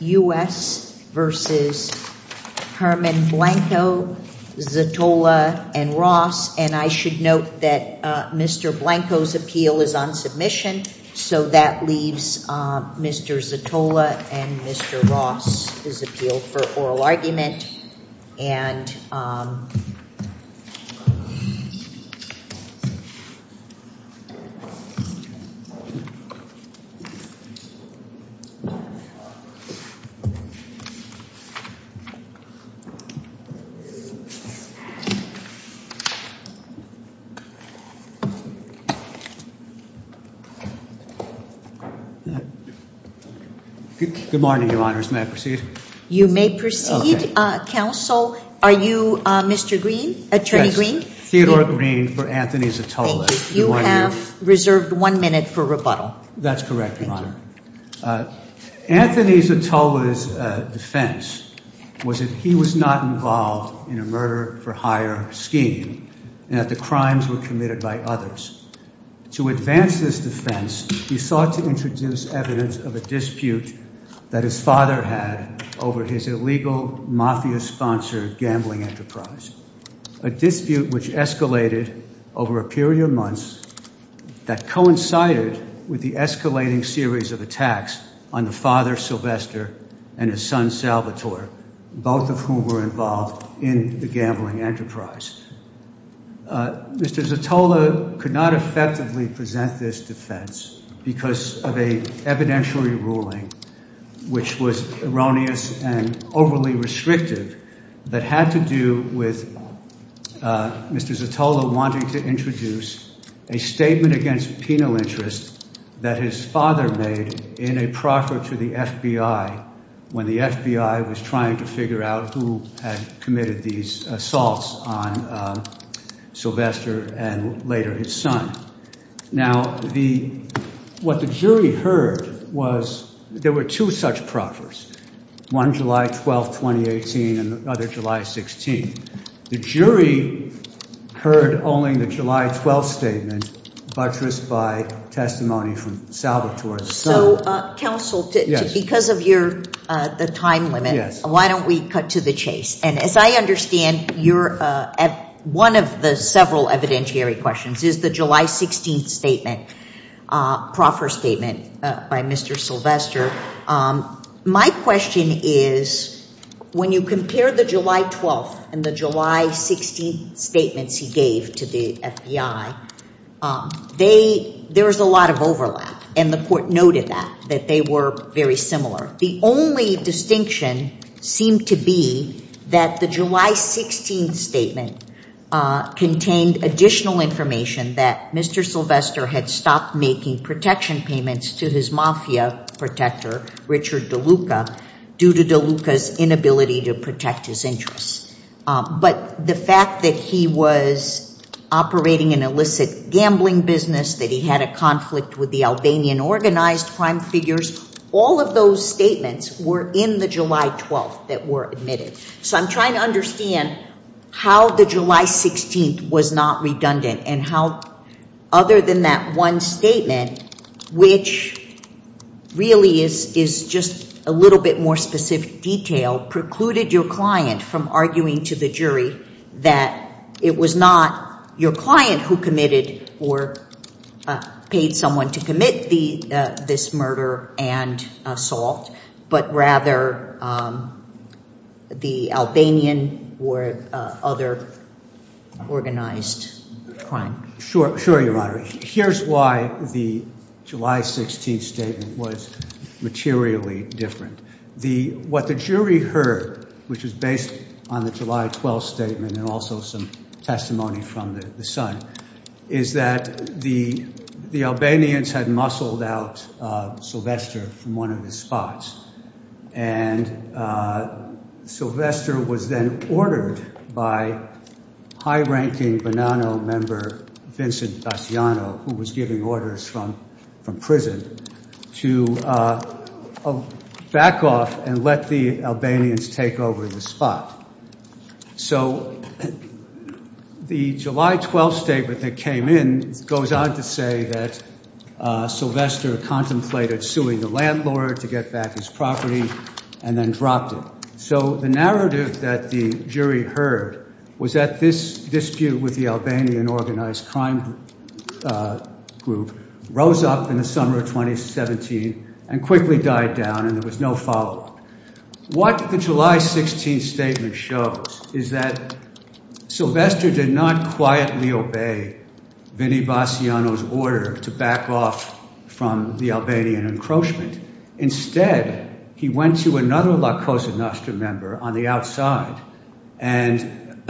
U.S. v. Herman Blanco, Zatola, and Ross, and I should note that Mr. Blanco's appeal is on submission, so that leaves Mr. Zatola and Mr. Ross' appeal for oral argument. Good morning, Your Honors. May I proceed? You may proceed, Counsel. Are you Mr. Greene, Attorney Greene? Theodore Greene for Anthony Zatola. You have reserved one minute for rebuttal. That's correct, Your Honor. Anthony Zatola's defense was that he was not involved in a defense. He sought to introduce evidence of a dispute that his father had over his illegal mafia-sponsored gambling enterprise, a dispute which escalated over a period of months that coincided with the escalating series of attacks on the father, Sylvester, and his son, Salvatore, both of whom were involved in the gambling enterprise. Mr. Zatola could not effectively present this defense because of an evidentiary ruling which was erroneous and overly restrictive that had to do with Mr. Zatola wanting to introduce a statement against penal interest that his father made in a proffer to the FBI when the FBI was trying to figure out who had these assaults on Sylvester and later his son. Now, what the jury heard was there were two such proffers, one July 12, 2018, and the other July 16. The jury heard only the July 12 statement buttressed by testimony from Salvatore. So, Counsel, because of the time limit, why don't we cut to the chase? And as I understand, one of the several evidentiary questions is the July 16 statement, proffer statement by Mr. Sylvester. My question is, when you compare the July 12 and the July 16 statements he gave to the FBI, there was a lot of overlap, and the court noted that, that they were very similar. The only distinction seemed to be that the July 16 statement contained additional information that Mr. Sylvester had stopped making protection payments to his mafia protector, Richard DeLuca, due to DeLuca's inability to protect his interests. But the fact that he was operating an illicit gambling business, that he had a conflict with the Albanian organized crime figures, all of those statements were in the July 12 that were admitted. So I'm trying to understand how the July 16 was not redundant, and how other than that one statement, which really is just a little bit more specific detail, precluded your client from arguing to the jury that it was not your client who committed or paid someone to commit the this murder and assault, but rather the Albanian or other organized crime? Sure, sure, Your Honor. Here's why the July 16 statement was materially different. What the jury heard, which is based on the July 12 statement and also some testimony from the son, is that the Albanians had muscled out Sylvester from one of his spots, and Sylvester was then ordered by high-ranking Bonanno member Vincent Daciano, who was giving orders from prison, to back off and let the Albanians take over the spot. So the July 12 statement that came in goes on to say that Sylvester contemplated suing the landlord to get back his property and then dropped it. So the narrative that the jury heard was that this dispute with the Albanian organized crime group rose up in the summer of 1917 and quickly died down and there was no follow-up. What the July 16 statement shows is that Sylvester did not quietly obey Vinny Daciano's order to back off from the Albanian encroachment. Instead, he went to another La Cosa Nostra member on the outside and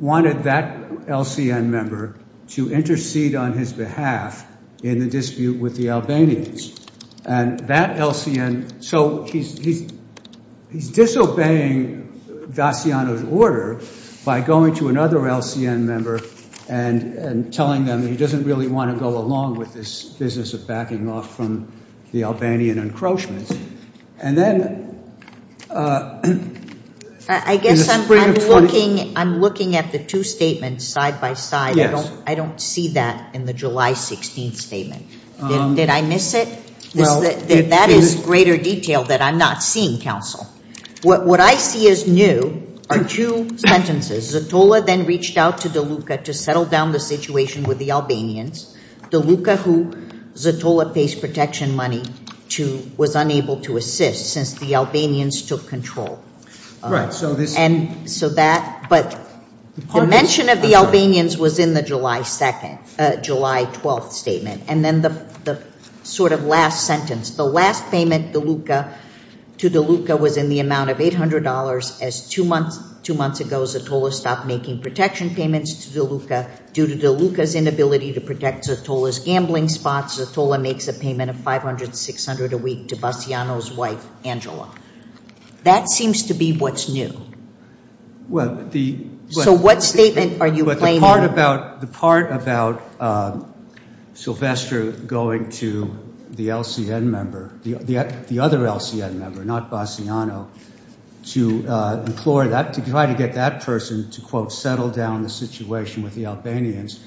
wanted that LCN member to intercede on his behalf in the dispute with the Albanians. And that LCN, so he's disobeying Daciano's order by going to another LCN member and telling them he doesn't really want to go along with this business of backing off from the Albanian encroachments. I guess I'm looking at the two statements side by side. I don't see that in the July 16 statement. Did I miss it? That is greater detail that I'm not seeing, counsel. What I see as new are two sentences. Zatola then reached out to De Luca to peddle down the situation with the Albanians. De Luca, who Zatola faced protection money to, was unable to assist since the Albanians took control. But the mention of the Albanians was in the July 12 statement. And then the sort of last sentence, the last payment De Luca to De Luca was in the amount of $800 as two months ago Zatola stopped making protection payments to De Luca due to De Luca's inability to protect Zatola's gambling spots. Zatola makes a payment of $500-$600 a week to Baciano's wife, Angela. That seems to be what's new. So what statement are you claiming? But the part about Sylvester going to the LCN member, the other LCN member, not Baciano, to implore that, to try to get that person to, quote, settle down the situation with the Albanians,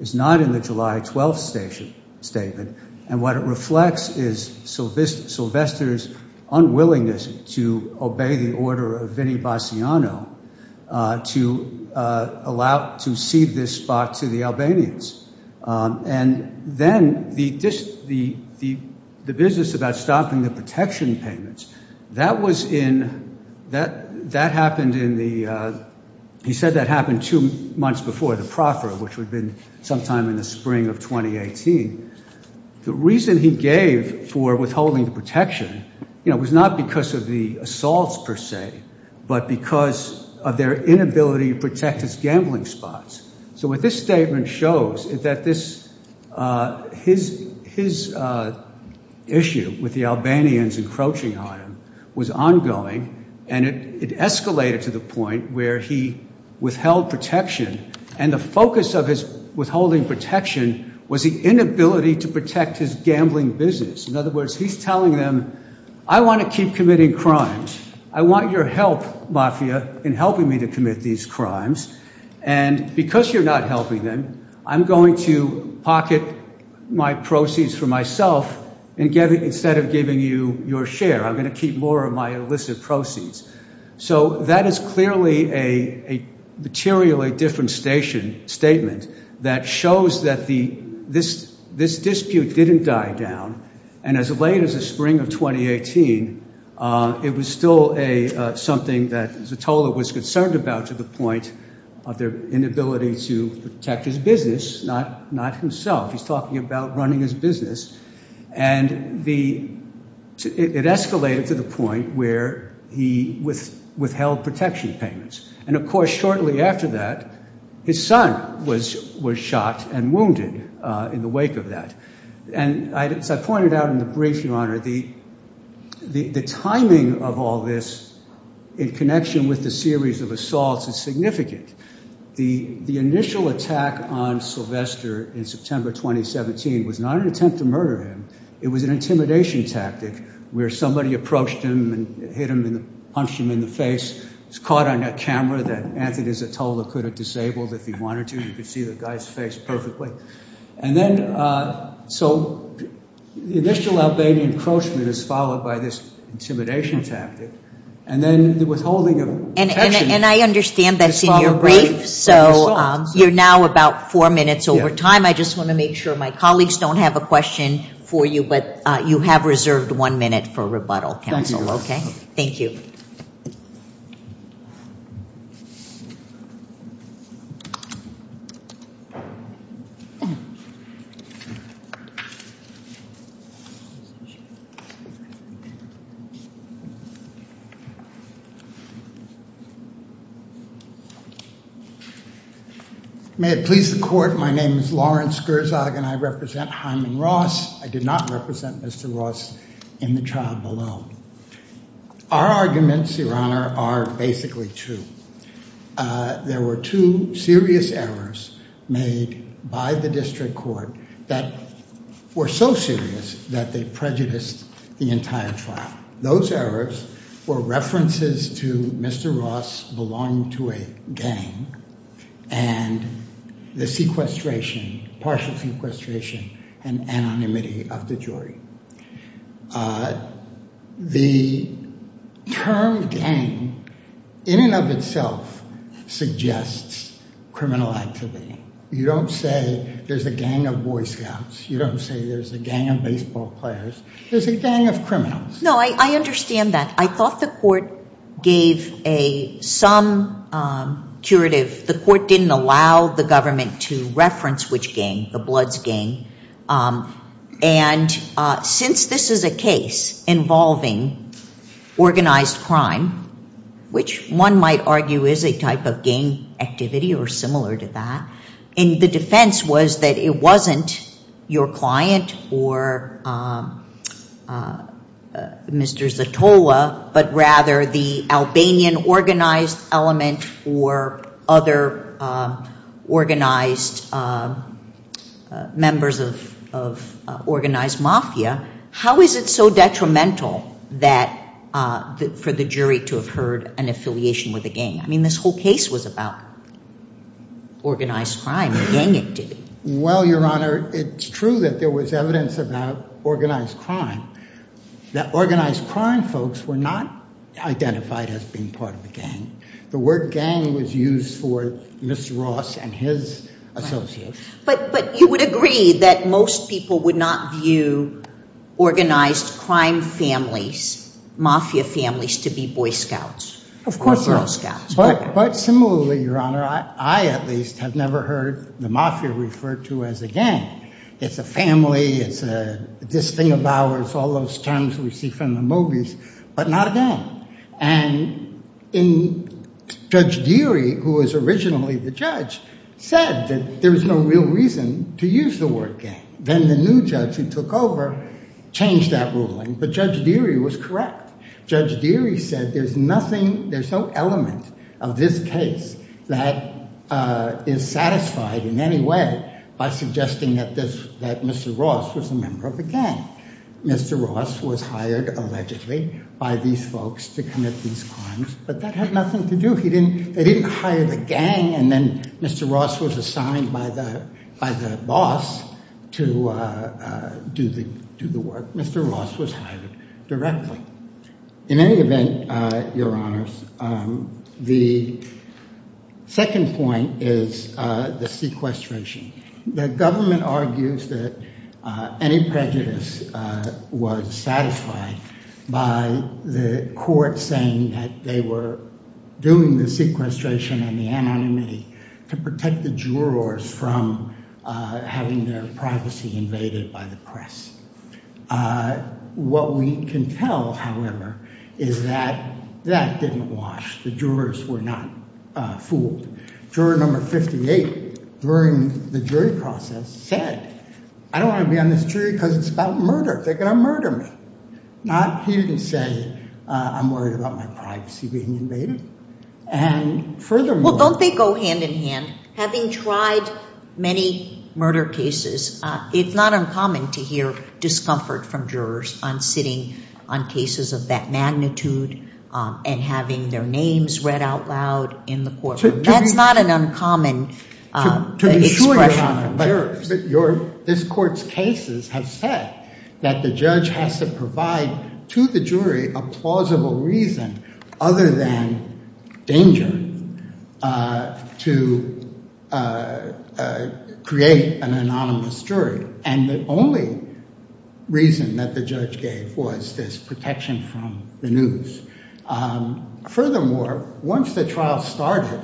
is not in the July 12 statement. And what it reflects is Sylvester's unwillingness to obey the order of Vinnie Baciano to allow, to cede this spot to the Albanians. And then the business about stopping the payments, that was in, that happened in the, he said that happened two months before the proffer, which would have been sometime in the spring of 2018. The reason he gave for withholding the protection, you know, was not because of the assaults per se, but because of their inability to protect his gambling spots. So what this statement shows is that this, his issue with the Albanians encroaching on him was ongoing, and it escalated to the point where he withheld protection. And the focus of his withholding protection was the inability to protect his gambling business. In other words, he's telling them, I want to keep committing crimes. I want your help, Mafia, in helping me to commit these crimes. And because you're not helping them, I'm going to pocket my proceeds for myself instead of giving you your share. I'm going to keep more of my illicit proceeds. So that is clearly a materially different statement that shows that this dispute didn't die down. And as late as the spring of 2018, it was still something that Zottola was concerned about to the point of their inability to protect his business, not himself. He's talking about running his business. And it escalated to the point where he withheld protection payments. And of course, shortly after that, his son was shot and wounded in the wake of that. And as I pointed out in the brief, Your Honor, the timing of all this in connection with the series of assaults is significant. The initial attack on Sylvester in September 2017 was not an attempt to murder him. It was an intimidation tactic where somebody approached him and punched him in the face. He was caught on a camera that Anthony Zottola could have disabled if he wanted to. You could see the guy's face perfectly. And then, so the initial encroachment is followed by this intimidation tactic. And then the withholding of protection. And I understand that's in your brief. So you're now about four minutes over time. I just want to make sure my colleagues don't have a question for you. But you have reserved one minute for rebuttal, counsel. Thank you. May it please the court, my name is Lawrence Gerzog and I represent Mr. Ross in the trial below. Our arguments, Your Honor, are basically true. There were two serious errors made by the district court that were so serious that they prejudiced the entire trial. Those errors were references to Mr. Ross belonging to a gang and the sequestration, partial sequestration, and anonymity of the jury. The term gang in and of itself suggests criminal activity. You don't say there's a gang of Boy Scouts. You don't say there's a gang of baseball players. There's a gang of criminals. No, I understand that. I thought the court gave some curative, the court didn't allow the government to reference which gang, the Bloods gang. And since this is a case involving organized crime, which one might argue is a type of gang activity or similar to that, and the defense was that it wasn't your client or Mr. Zatola, but rather the Albanian organized element or other organized members of organized mafia, how is it so detrimental for the jury to have heard an affiliation with a gang? I mean, this whole case was about organized crime and gang activity. Well, Your Honor, it's true that there was evidence about organized crime, that organized crime folks were not identified as being part of the gang. The word gang was used for Mr. Ross and his associates. But you would agree that most people would not view organized crime families, mafia families, to be Boy Scouts. Of course not. But similarly, Your Honor, I at least have never heard the mafia referred to as a gang. It's a family, it's this thing of ours, all those terms we see from the movies, but not a gang. And in Judge Deary, who was originally the judge, said that there was no real reason to use the word gang. Then the new judge who took over changed that ruling, but Judge Deary was correct. Judge Deary said there's nothing, there's no element of this case that is satisfied in any way by suggesting that this, that Mr. Ross was a member of a gang. Mr. Ross was hired allegedly by these folks to commit these crimes, but that had nothing to do. He didn't, they didn't hire the gang and then Mr. Ross was assigned by the boss to do the work. Mr. Ross was hired directly. In any event, Your Honors, the second point is the sequestration. The government argues that any prejudice was satisfied by the court saying that they were doing the sequestration and the anonymity to protect the jurors from having their privacy invaded by the press. Uh, what we can tell, however, is that that didn't wash. The jurors were not fooled. Juror number 58 during the jury process said, I don't want to be on this jury because it's about murder. They're going to murder me. Not, he didn't say, I'm worried about my privacy being invaded. And furthermore, don't they go hand in hand? Having tried many murder cases, it's not uncommon to hear discomfort from jurors on sitting on cases of that magnitude and having their names read out loud in the courtroom. That's not an uncommon expression from jurors. But this court's cases have said that the judge has to provide to the jury a plausible reason other than danger to create an anonymous jury. And the only reason that the judge gave was this protection from the news. Furthermore, once the trial started,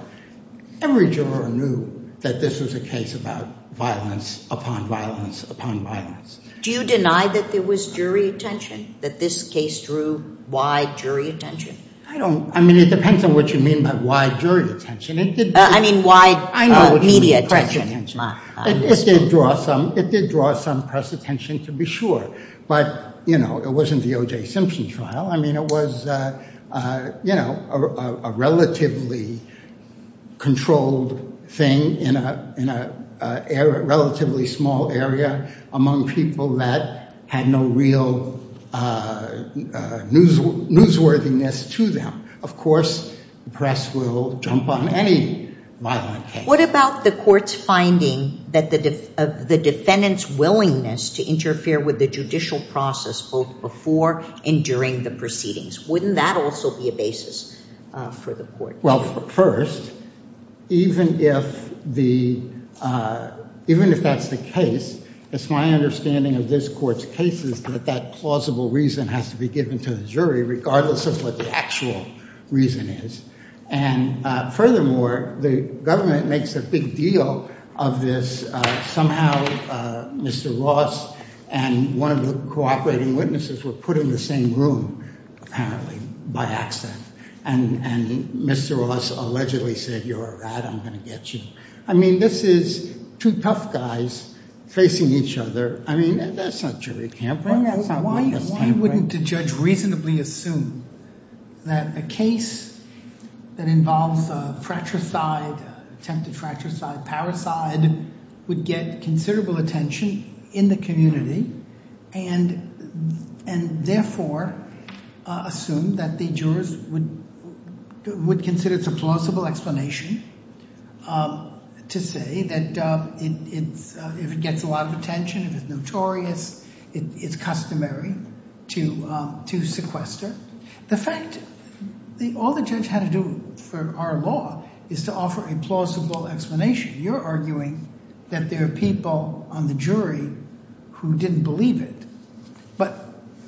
every juror knew that this was a case about violence upon violence upon violence. Do you deny that there was jury attention, that this case drew wide jury attention? I don't. I mean, it depends on what you mean by wide jury attention. I mean, wide media attention. It did draw some press attention to be sure. But, you know, it wasn't the O.J. Simpson trial. I mean, it was, you know, a relatively controlled thing in a relatively small area among people that had no real newsworthiness to them. Of course, the press will jump on any violent case. What about the court's finding that the defendant's willingness to interfere with the judicial process both before and during the proceedings? Wouldn't that also be a basis for the court? Well, first, even if that's the case, it's my understanding of this court's cases that that plausible reason has to be given to the jury regardless of what the actual reason is. And furthermore, the government makes a big deal of this. Somehow, Mr. Ross and one of the cooperating witnesses were put in the same room, apparently by accident. And Mr. Ross allegedly said, you're a rat. I'm going to get you. I mean, this is two tough guys facing each other. I mean, that's not jury camp. Why wouldn't a judge reasonably assume that a case that involves a fratricide, attempted fratricide, parasite, would get considerable attention in the community and therefore assume that the jurors would consider it's a plausible explanation to say that if it gets a lot of attention, if it's notorious, it's customary to sequester. The fact that all the judge had to do for our law is to offer a plausible explanation. You're believe it. But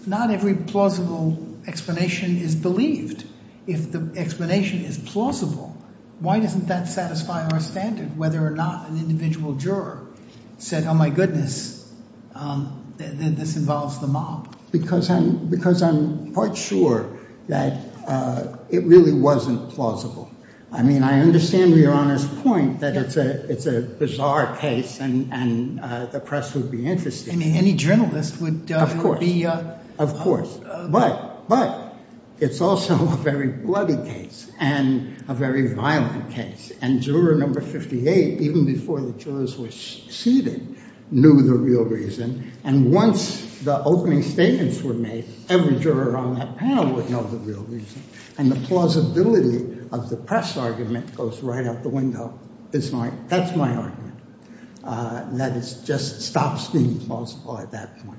not every plausible explanation is believed. If the explanation is plausible, why doesn't that satisfy our standard, whether or not an individual juror said, oh, my goodness, this involves the mob? Because I'm part sure that it really wasn't plausible. I mean, I understand your honest point that it's a bizarre case and the press would be interested. Any journalist would be. Of course. But it's also a very bloody case and a very violent case. And juror number 58, even before the jurors were seated, knew the real reason. And once the opening statements were made, every juror on that panel would know the real reason. And the plausibility of the press argument goes right out the window. That's my argument. That is just stops being plausible at that point.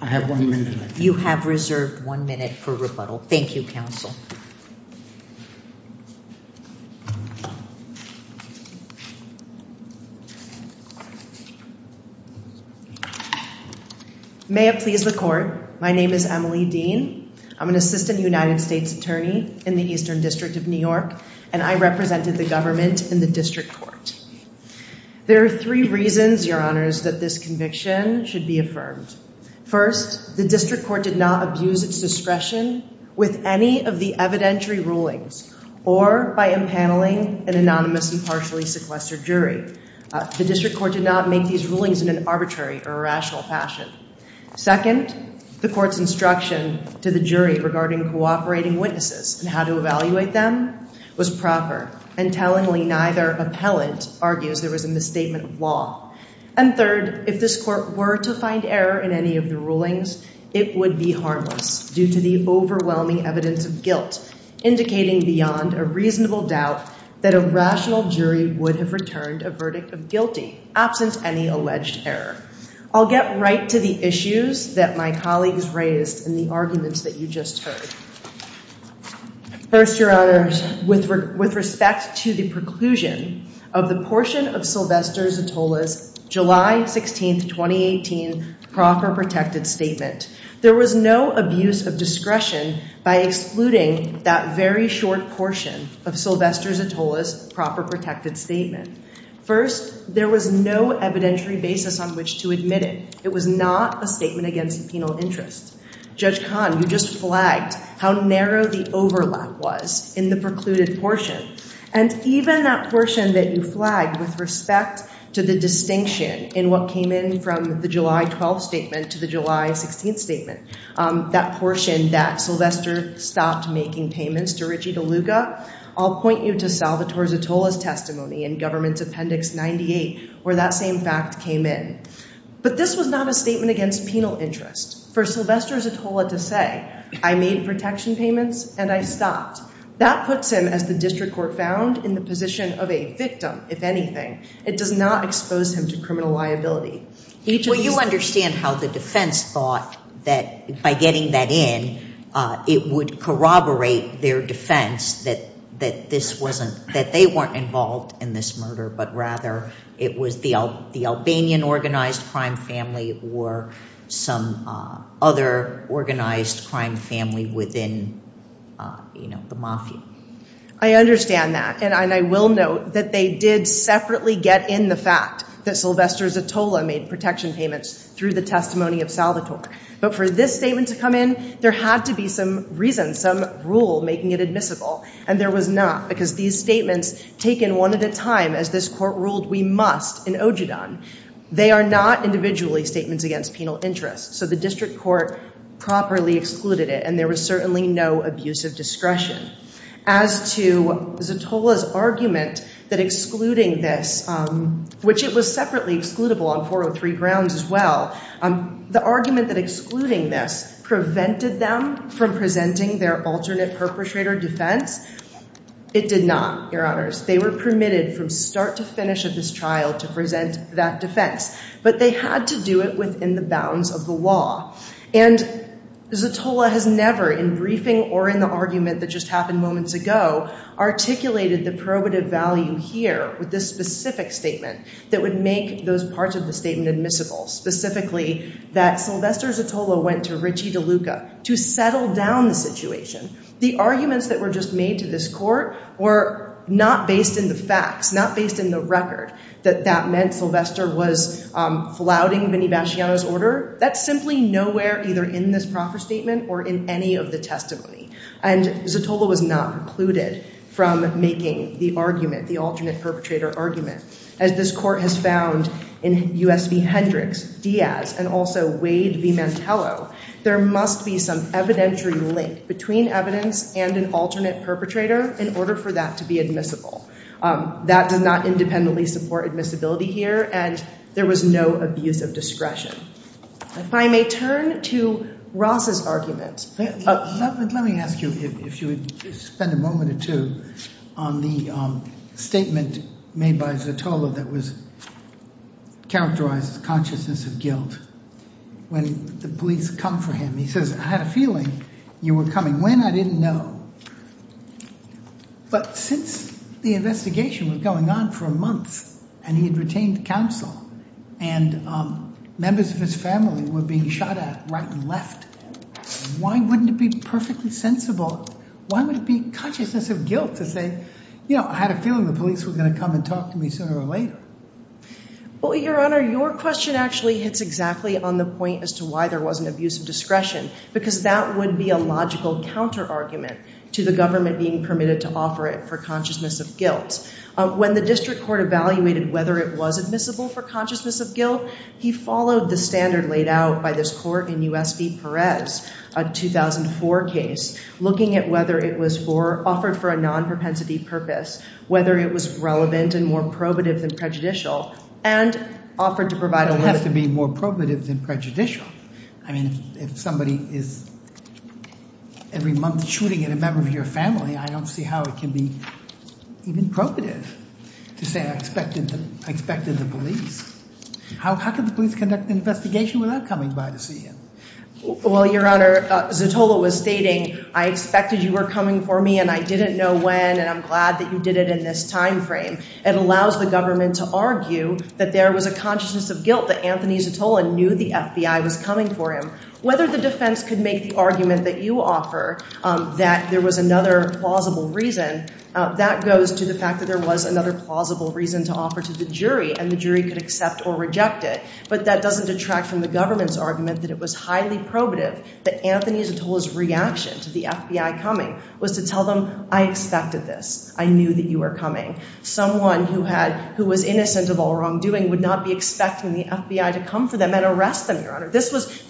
I have one minute. You have reserved one minute for rebuttal. Thank you, counsel. May it please the court. My name is Emily Dean. I'm an assistant United States attorney in the Eastern District of New York, and I represented the government in the district court. There are three reasons, your honors, that this conviction should be affirmed. First, the district court did not abuse its discretion with any of the evidentiary rulings or by impaneling an anonymous and partially sequestered jury. The district court did not make these rulings in an arbitrary or irrational fashion. Second, the court's instruction to the jury regarding cooperating witnesses and how to evaluate them was proper and tellingly neither argues there was a misstatement of law. And third, if this court were to find error in any of the rulings, it would be harmless due to the overwhelming evidence of guilt, indicating beyond a reasonable doubt that a rational jury would have returned a verdict of guilty, absent any alleged error. I'll get right to the issues that my colleagues raised and the arguments that you just heard. First, your honors, with respect to the preclusion of the portion of Sylvester Zatola's July 16th, 2018 proper protected statement, there was no abuse of discretion by excluding that very short portion of Sylvester Zatola's proper protected statement. First, there was no evidentiary basis on which to admit it. It was not a statement against the penal interest. Judge Kahn, you just flagged how narrow the overlap was in the precluded portion. And even that portion that you flagged with respect to the distinction in what came in from the July 12 statement to the July 16 statement, that portion that Sylvester stopped making payments to Ritchie DeLuca, I'll point you to Salvatore Zatola's testimony in government's appendix 98 where that fact came in. But this was not a statement against penal interest for Sylvester Zatola to say, I made protection payments and I stopped. That puts him, as the district court found, in the position of a victim, if anything. It does not expose him to criminal liability. Well, you understand how the defense thought that by getting that in, it would corroborate their defense that this wasn't, that they weren't involved in this murder, but rather it was the Albanian organized crime family or some other organized crime family within, you know, the mafia. I understand that. And I will note that they did separately get in the fact that Sylvester Zatola made protection payments through the testimony of Salvatore. But for this statement to come in, there had to be reason, some rule making it admissible. And there was not, because these statements taken one at a time, as this court ruled, we must in OJIDAN, they are not individually statements against penal interest. So the district court properly excluded it and there was certainly no abusive discretion. As to Zatola's argument that excluding this, which it was separately excludable on 403 grounds as well, the argument that excluding this prevented them from presenting their alternate perpetrator defense, it did not, your honors. They were permitted from start to finish of this trial to present that defense, but they had to do it within the bounds of the law. And Zatola has never in briefing or in the argument that just happened moments ago, articulated the probative value here with this specific statement that would make those parts of the statement admissible. Specifically that Sylvester Zatola went to Ricci DeLuca to settle down the situation. The arguments that were just made to this court were not based in the facts, not based in the record, that that meant Sylvester was flouting Vinni Baciano's order. That's simply nowhere either in this proffer statement or in any of the testimony. And Zatola was not precluded from making the argument, the alternate perpetrator argument. As this court has found in U.S. v. Hendricks, Diaz, and also Wade v. Mantello, there must be some evidentiary link between evidence and an alternate perpetrator in order for that to be admissible. That does not independently support admissibility here, and there was no abuse of discretion. If I may turn to Ross's argument. Let me ask you if you would spend a moment or two on the statement made by Zatola that was characterized as consciousness of guilt. When the police come for him, he says, I had a feeling you were coming. When? I didn't know. But since the investigation was going on for months, and he had retained counsel, and members of his family were being shot at right and left, why wouldn't it be perfectly sensible, why would it be consciousness of guilt to say, you know, I had a feeling the police were going to come and talk to me sooner or later? Well, your honor, your question actually hits exactly on the point as to why there wasn't abuse of discretion, because that would be a logical counter-argument to the government being permitted to offer it for consciousness of guilt. When the district court evaluated whether it was admissible for consciousness of guilt, he followed the standard laid out by this court in U.S. v. Perez, a 2004 case, looking at whether it was offered for a non-propensity purpose, whether it was relevant and more probative than prejudicial, and offered to provide a limit. It has to be more probative than prejudicial. I mean, if somebody is every month shooting at a member of your family, I don't see how it can be even probative to say I expected the police. How could the police conduct an investigation without coming by to see him? Well, your honor, Zatola was stating, I expected you were coming for me and I didn't know when, and I'm glad that you did it in this time frame. It allows the government to argue that there was a consciousness of guilt that Anthony Zatola knew the FBI was coming for him. Whether the defense could make the argument that you offer that there was another plausible reason, that goes to the fact that there was another plausible reason to offer to the jury, and the jury could accept or reject it. But that doesn't detract from the government's argument that it was highly probative that Anthony Zatola's reaction to the FBI coming was to tell them, I expected this. I knew that you were coming. Someone who was innocent of all wrongdoing would not be expecting the FBI to come for them and arrest them, your honor. The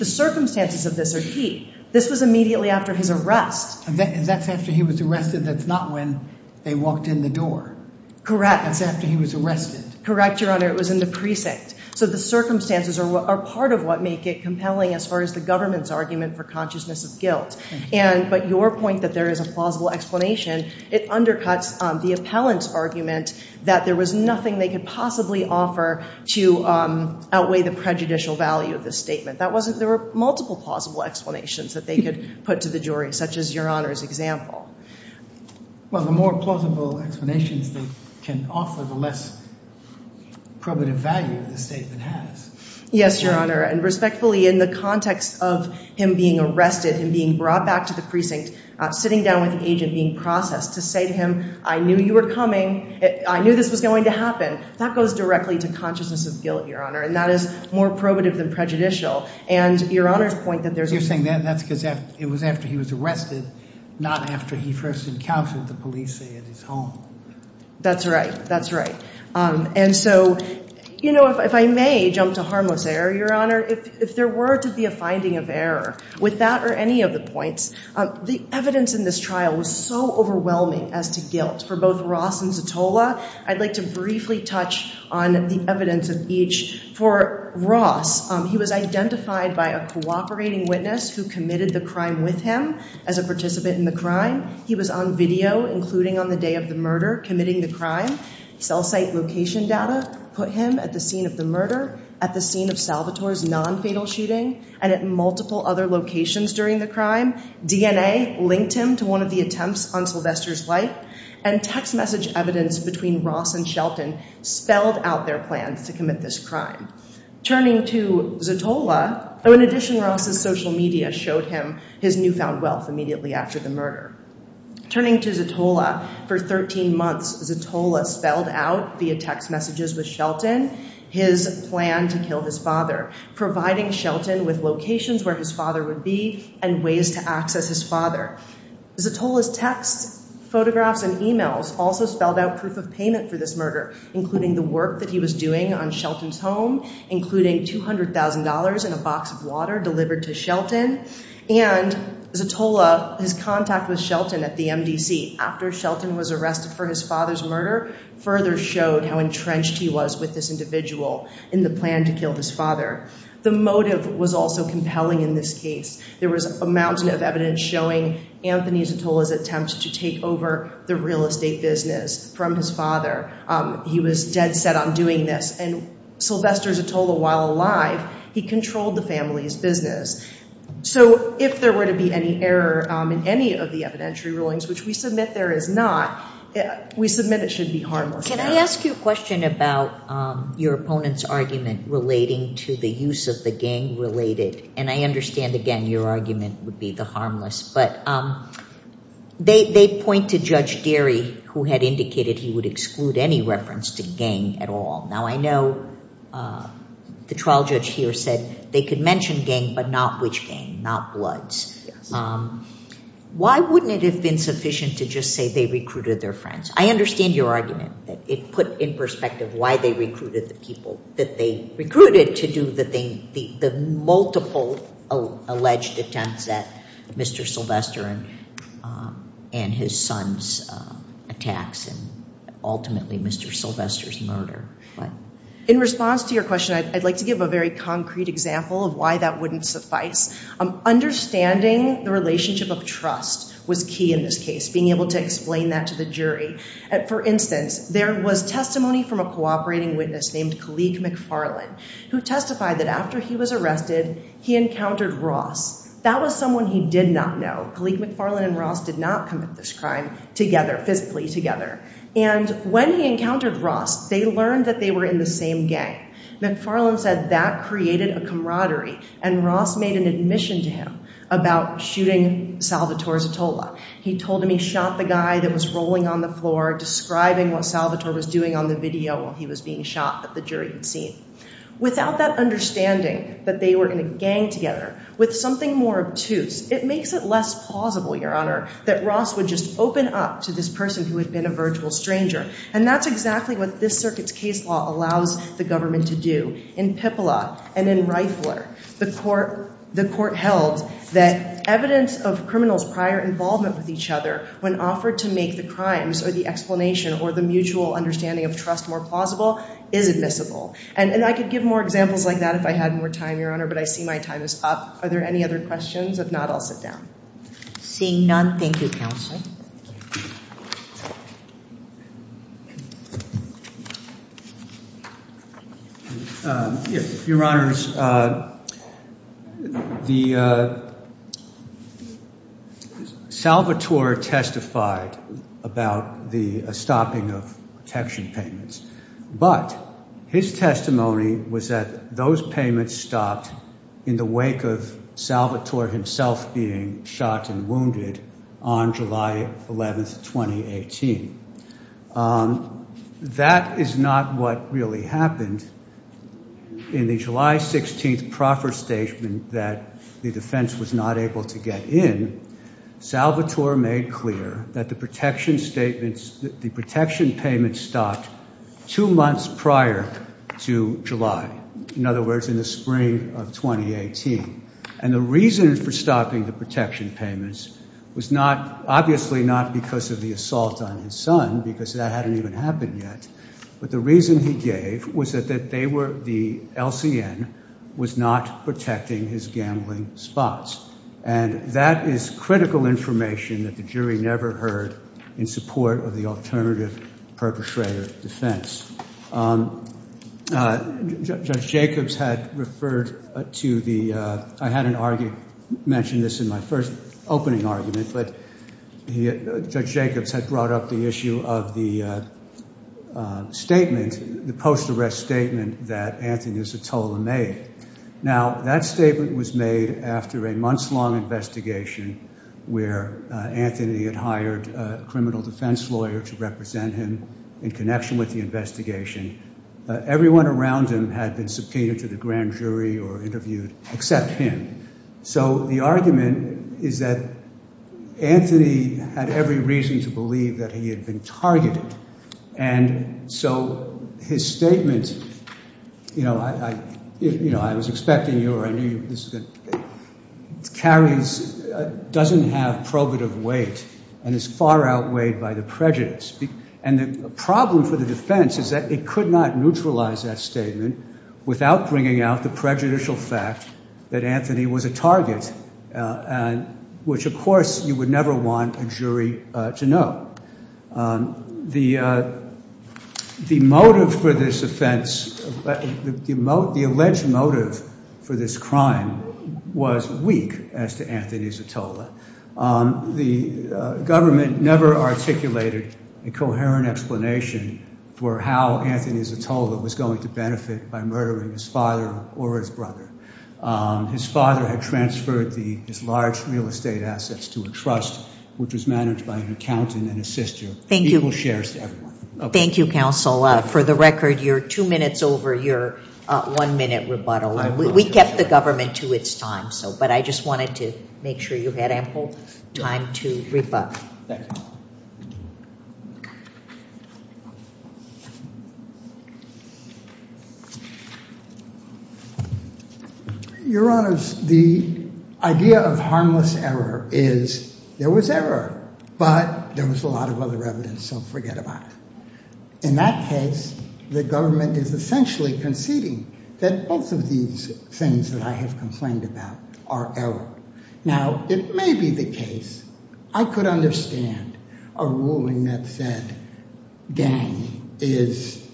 circumstances of this are key. This was immediately after his arrest. That's after he was arrested. That's not when they walked in the door. Correct. That's after he was arrested. Correct, your honor. It was in the precinct. So the circumstances are part of what make it compelling as far as the government's argument for consciousness of guilt. But your point that there is a plausible explanation, it undercuts the appellant's argument that there was nothing they could possibly offer to outweigh the prejudicial value of the statement. There were multiple plausible explanations that they could put to the jury, such as your honor's example. Well, the more plausible explanations they can offer, the less probative value the statement has. Yes, your honor. And respectfully, in the context of him being arrested and being brought back to the precinct, sitting down with the agent being processed to say to him, I knew you were coming. I knew this was going to happen. That goes directly to consciousness of guilt, your honor. And that is more probative than prejudicial. And your honor's point that there's... You're saying that's because it was after he was arrested, not after he first encountered the police at his home. That's right. That's right. And so, you know, if I may jump to harmless error, your honor, if there were to be a finding of error with that or any of the points, the evidence in this trial was so overwhelming as to guilt for both Ross and Zatola. I'd like to briefly touch on the evidence of each. For Ross, he was identified by a cooperating witness who committed the crime with him as a participant in the crime. He was on video, including on the day of the murder, committing the crime. Cell site location data put him at the scene of the murder, at the scene of Salvatore's non-fatal shooting, and at multiple other locations during the crime. DNA linked him to one of the attempts on Sylvester's life, and text message evidence between Ross and Shelton spelled out their plans to commit this crime. Turning to Zatola, in addition, Ross's social media showed him his newfound wealth immediately after the murder. Turning to Zatola, for 13 months, Zatola spelled out via text messages with Shelton, his plan to kill his father, providing Shelton with locations where his father would be and ways to access his father. Zatola's texts, photographs, and emails also spelled out proof of payment for this murder, including the work that he was doing on Shelton's home, including $200,000 and a box of water delivered to Shelton, and Zatola, his contact with Shelton at the MDC after Shelton was arrested for his father's murder, further showed how entrenched he was with this individual in the plan to kill his father. The motive was also compelling in this case. There was a mountain of evidence showing Anthony Zatola's attempt to take over the real estate business from his father. He was dead set on doing this, and Sylvester Zatola, while alive, he controlled the family's business. So if there were to be any error in any of the evidentiary rulings, which we submit there is not, we submit it should be harmless. Can I ask you a question about your opponent's argument relating to the use of the gang-related, and I understand, again, your argument would be the harmless, but they point to Judge Derry, who had indicated he would exclude any reference to gang at all. Now, I know the trial judge here said they could mention gang, but not which gang, not Bloods. Why wouldn't it have been sufficient to just say they recruited their friends? I understand your argument that it put in perspective why they recruited the people alleged attempts at Mr. Sylvester and his son's attacks and ultimately Mr. Sylvester's murder. In response to your question, I'd like to give a very concrete example of why that wouldn't suffice. Understanding the relationship of trust was key in this case, being able to explain that to the jury. For instance, there was testimony from a cooperating witness named Kalik McFarlane, who testified that after he was arrested, he encountered Ross. That was someone he did not know. Kalik McFarlane and Ross did not commit this crime physically together. When he encountered Ross, they learned that they were in the same gang. McFarlane said that created a camaraderie, and Ross made an admission to him about shooting Salvatore Zatola. He told him he shot the guy that was rolling on the floor, describing what Salvatore was doing on the video while he was being shot that the jury had seen. Without that understanding that they were in a gang together, with something more obtuse, it makes it less plausible, your honor, that Ross would just open up to this person who had been a virtual stranger. And that's exactly what this circuit's case law allows the government to do. In Pippala and in Reifler, the court held that evidence of criminals' prior involvement with each other, when offered to make the crimes or the explanation or mutual understanding of trust more plausible, is admissible. And I could give more examples like that if I had more time, your honor, but I see my time is up. Are there any other questions? If not, I'll sit down. Seeing none, thank you, counsel. Your honor, Salvatore testified about the stopping of protection payments, but his testimony was that those payments stopped in the wake of Salvatore himself being shot and wounded on July 11th, 2018. That is not what really happened. In the July 16th proffer statement that the defense was not able to get in, Salvatore made clear that the protection statements, the protection payments stopped two months prior to July. In other words, in the spring of 2018. And the reason for stopping the protection payments was not, obviously not because of the assault on his son, because that hadn't even happened yet, but the reason he gave was that they were, the LCN, was not protecting his gambling spots. And that is critical information that the jury never heard in support of the defense. Judge Jacobs had referred to the, I had an argument, mentioned this in my first opening argument, but Judge Jacobs had brought up the issue of the statement, the post-arrest statement that Anthony Isatola made. Now that statement was made after a month's long investigation where Anthony had hired a criminal defense lawyer to represent him in connection with the investigation. Everyone around him had been subpoenaed to the grand jury or interviewed, except him. So the argument is that Anthony had every reason to believe that he had been targeted. And so his statement, you know, I, you know, I was expecting you or I knew you, that carries, doesn't have probative weight and is far outweighed by the prejudice. And the problem for the defense is that it could not neutralize that statement without bringing out the prejudicial fact that Anthony was a target, which of course you would never want a jury to know. The motive for this offense, the alleged motive for this crime was weak as to Anthony Isatola. The government never articulated a coherent explanation for how Anthony Isatola was going to benefit by murdering his father or his brother. His father had transferred his large real estate assets to a trust, which was managed by an accountant and his sister. Thank you. Equal shares to everyone. Thank you, counsel. For the record, you're two minutes over your one minute rebuttal. We kept the government to its time, so, but I just wanted to make sure you had ample time to rebut. Your honors, the idea of harmless error is there was error, but there was a lot of other evidence, so forget about it. In that case, the government is essentially conceding that both of these things that I have complained about are error. Now it may be the case I could understand a ruling that said gang is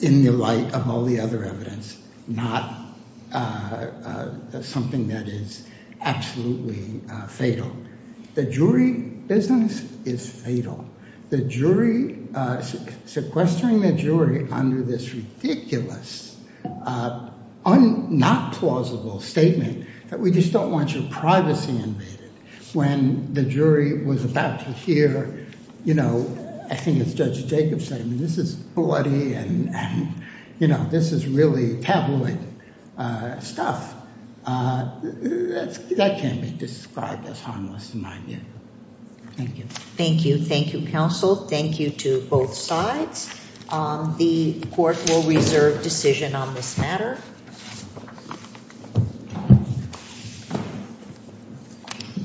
in the light of all the other evidence, not something that is absolutely fatal. The jury business is fatal. The jury, sequestering the jury under this ridiculous, not plausible statement that we just don't want your privacy invaded when the jury was about to hear, you know, I think it's Judge Jacobson, this is bloody and, you know, this is really tabloid stuff. That can't be described as harmless in my view. Thank you. Thank you. Thank you, counsel. Thank you to both sides. The court will reserve decision on this matter.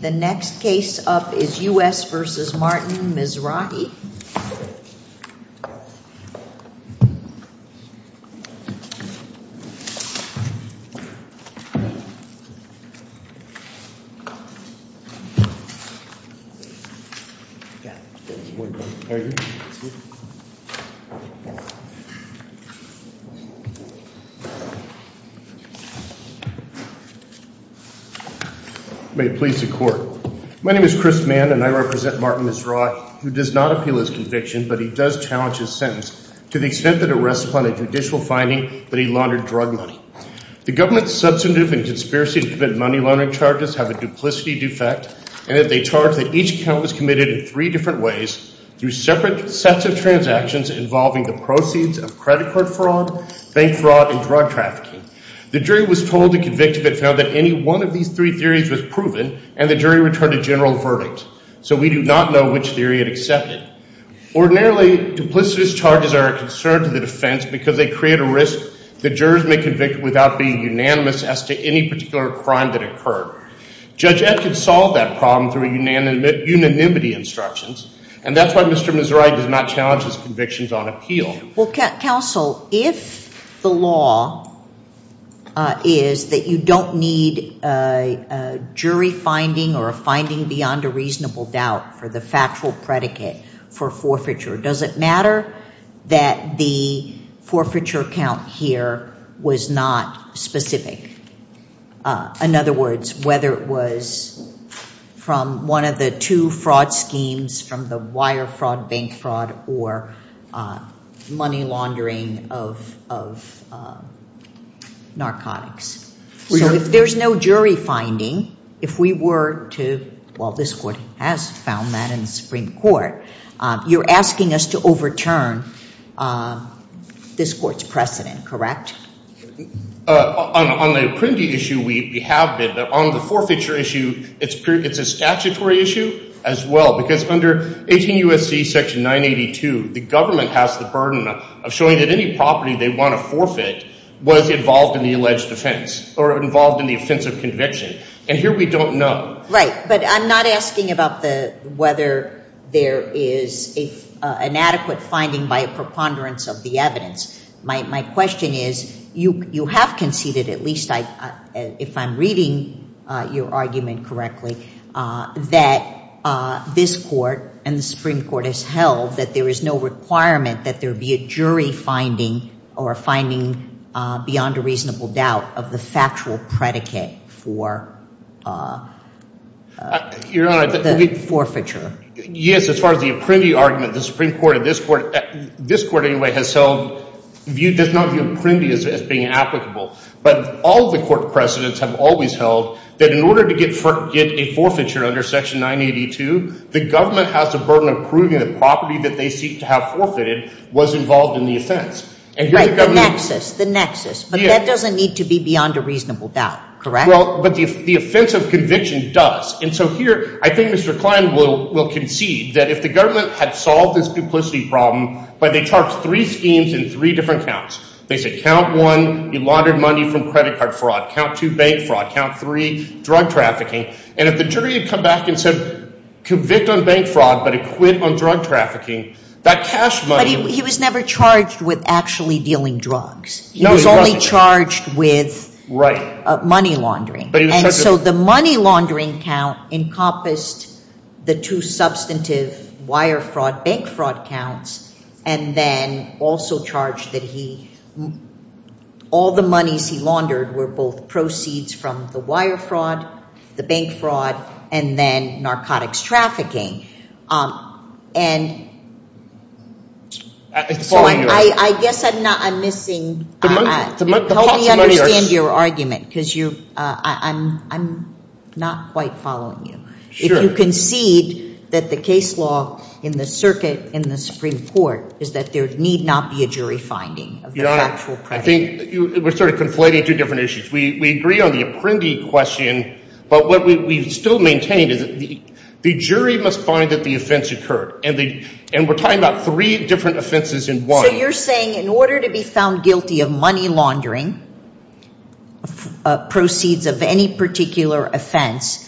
The next case up is U.S. versus Martin Mizrahi. May it please the court. My name is Chris Mann, and I represent Martin Mizrahi, who does not appeal his conviction, but he does challenge his sentence to the extent that it rests upon a judicial finding that he laundered drug money. The government's substantive and conspiracy to commit money laundering charges have a duplicity defect, and that they charge that each account was committed in three different ways through separate sets of transactions involving the proceeds of credit card fraud, bank fraud, and drug trafficking. The jury was told to convict if it found that any one of these three theories was proven, and the jury returned a general verdict. So we do not know which theory it accepted. Ordinarily, duplicitous charges are a concern to the defense because they create a risk that jurors may convict without being unanimous as to any particular crime that occurred. Judge Ed can solve that problem through unanimity instructions, and that's why Mr. Mizrahi does not challenge his convictions on appeal. Well, counsel, if the law is that you don't need a jury finding or a finding beyond a reasonable doubt for the factual predicate for forfeiture, does it matter that the forfeiture count here was not specific? In other words, whether it was from one of the two fraud schemes, from the wire fraud, bank fraud, or money laundering of narcotics. So if there's no jury finding, if we were to, well this court has found that in the Supreme Court, you're asking us to return this court's precedent, correct? On the Apprendi issue, we have been, but on the forfeiture issue, it's a statutory issue as well. Because under 18 U.S.C. section 982, the government has the burden of showing that any property they want to forfeit was involved in the alleged offense or involved in the offensive conviction. And here we don't know. Right, but I'm not asking about whether there is an adequate finding by a preponderance of the evidence. My question is, you have conceded, at least if I'm reading your argument correctly, that this court and the Supreme Court has held that there is no requirement that there be a jury finding or a finding beyond a reasonable doubt of the factual predicate for the forfeiture. Yes, as far as the Apprendi argument, the Supreme Court and this court, this court anyway has held, does not view Apprendi as being applicable. But all of the court precedents have always held that in order to get a forfeiture under section 982, the government has the burden of proving the property that they seek to have forfeited was involved in the offense. Right, the nexus, the nexus. But that doesn't need to be beyond a reasonable doubt, correct? Well, but the offense of conviction does. And so here, I think Mr. Klein will concede that if the government had solved this duplicity problem by, they charged three schemes in three different counts. They said count one, you laundered money from credit card fraud. Count two, bank fraud. Count three, drug trafficking. And if the jury had come back and said, convict on bank fraud, but acquit on drug trafficking, that cash money. He was never charged with actually dealing drugs. He was only charged with money laundering. And so the money laundering count encompassed the two substantive wire fraud, bank fraud counts, and then also charged that he, all the monies he laundered were both proceeds from the wire fraud, the bank fraud, and then narcotics trafficking. And I guess I'm not, I'm missing, help me understand your argument because you, I'm not quite following you. If you concede that the case law in the circuit in the Supreme Court is that there need not be a jury finding. Your Honor, I think we're sort of conflating two different issues. We agree on the apprendee question, but what we've still maintained is that the jury must find that the offense occurred. And we're talking about three different offenses in one. So you're saying in order to be found guilty of money laundering, proceeds of any particular offense,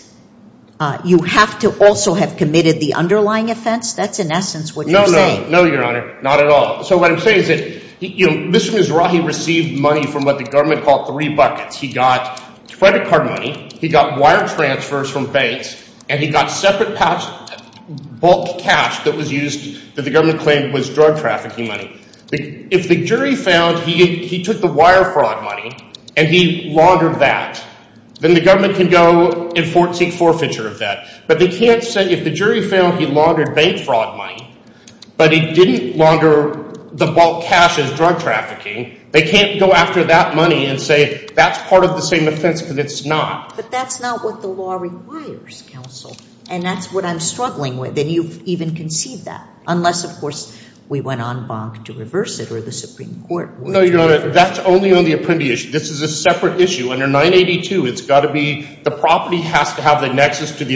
you have to also have committed the underlying offense? That's in essence what you're saying. No, no, no, Your Honor. Not at all. So what I'm saying is that, you know, Mr. Mizrahi received money from what the government called three buckets. He got credit card money, he got wire transfers from banks, and he got separate bulk cash that was used that the government claimed was drug trafficking money. If the jury found he took the wire fraud money and he laundered that, then the government can go enforcing forfeiture of that. But they can't say if the jury found he laundered bank fraud money, but he didn't launder the bulk cash as drug trafficking. They can't go after that money and say that's part of the same offense because it's not. But that's not what the law requires, counsel. And that's what I'm struggling with. And you've even conceived that. Unless, of course, we went on bonk to reverse it or the Supreme Court would. No, Your Honor. That's only on the apprendee issue. This is a separate issue. Under 982, it's got to be the property has to have the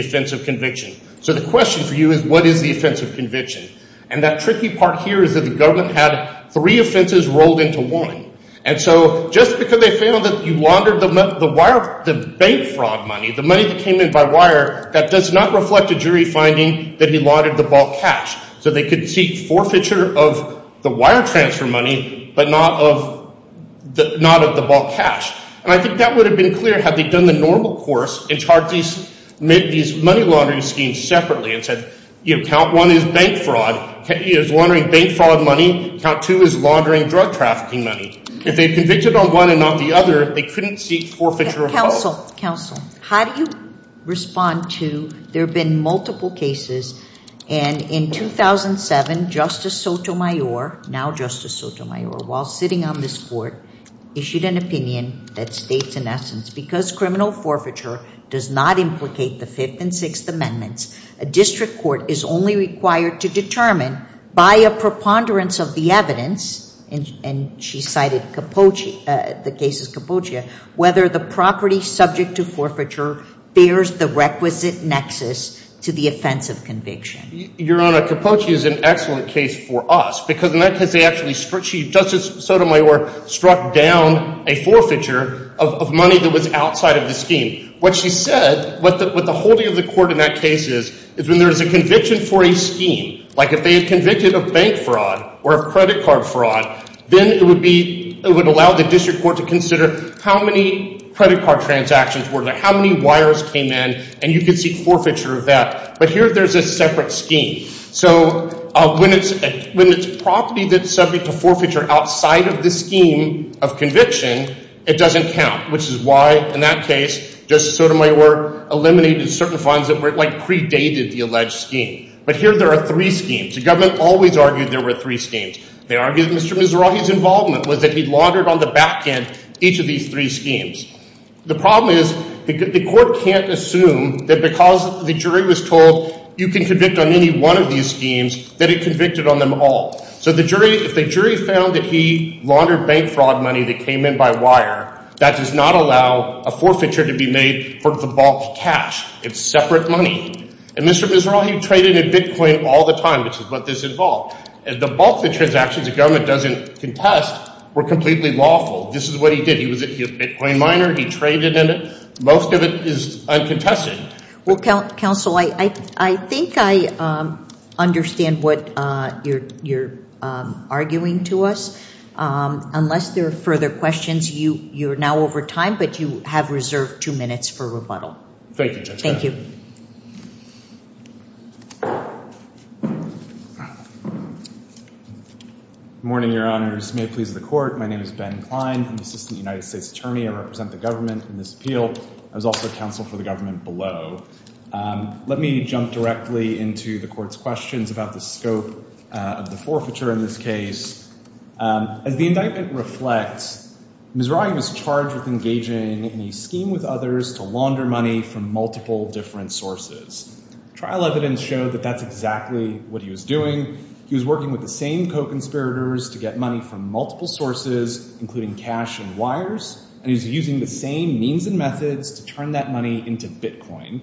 offense of conviction. So the question for you is what is the offense of conviction? And that tricky part here is that the government had three offenses rolled into one. And so just because they found that he laundered the wire, the bank fraud money, the money that came in by wire, that does not reflect a jury finding that he laundered the bulk cash. So they could seek forfeiture of the wire transfer money, but not of the bulk cash. And I think that would have been clear had they done the normal course and charged these money laundering schemes separately and said, you know, count one is bank fraud. He is laundering bank fraud money. Count two is laundering drug trafficking money. If they convicted on one and not the other, they couldn't seek forfeiture of the bulk. Counsel, counsel, how do you respond to there have been multiple cases and in 2007, Justice Sotomayor, now Justice Sotomayor, while sitting on this court, issued an opinion that states in essence, because criminal forfeiture does not implicate the Fifth and Sixth Amendments, a district court is only required to determine by a preponderance of the evidence, and she cited Capoce, the case of Capoce, whether the property subject to forfeiture bears the requisite nexus to the offense of conviction. Your Honor, Capoce is an excellent case for us because in that case, they actually struck, Justice Sotomayor struck down a forfeiture of money that was outside of the scheme. What she said, what the holding of the court in that case is, is when there is a conviction for a scheme, like if they had convicted of bank fraud or of credit card fraud, then it would be, it would allow the district court to consider how many credit card transactions were there, how many wires came in, and you could seek forfeiture of that. But here there's a separate scheme. So when it's, when it's property that's subject to forfeiture outside of the scheme of conviction, it doesn't count, which is why in that case, Justice Sotomayor eliminated certain funds that were like predated the alleged scheme. But here there are three schemes. The government always argued there were three schemes. They argued Mr. Mizrahi's involvement was that he laundered on the back end each of these three schemes. The problem is the court can't assume that because the jury was told you can convict on any one of these schemes, that it convicted on them all. So the jury, if the jury found that he laundered bank fraud money that came in by wire, that does not allow a forfeiture to be made for the bulk cash. It's separate money. And Mr. Mizrahi traded in bitcoin all the time, which is what this involved. And the bulk of the transactions the government doesn't contest were completely lawful. This is what he did. He was a bitcoin miner. He traded in it. Most of it is uncontested. Well, counsel, I think I understand what you're arguing to us. Unless there are further questions, you're now over time, but you have reserved two minutes for rebuttal. Thank you, Justice Sotomayor. Good morning, Your Honors. May it please the court. My name is Ben Klein. I'm the Assistant United States Attorney. I represent the government in this appeal. I was also counsel for the government below. Let me jump directly into the court's questions about the scope of the forfeiture in this case. As the indictment reflects, Mizrahi was charged with engaging in a scheme with others to launder money from multiple different sources. Trial evidence showed that that was not the case. That's exactly what he was doing. He was working with the same co-conspirators to get money from multiple sources, including cash and wires, and he was using the same means and methods to turn that money into bitcoin,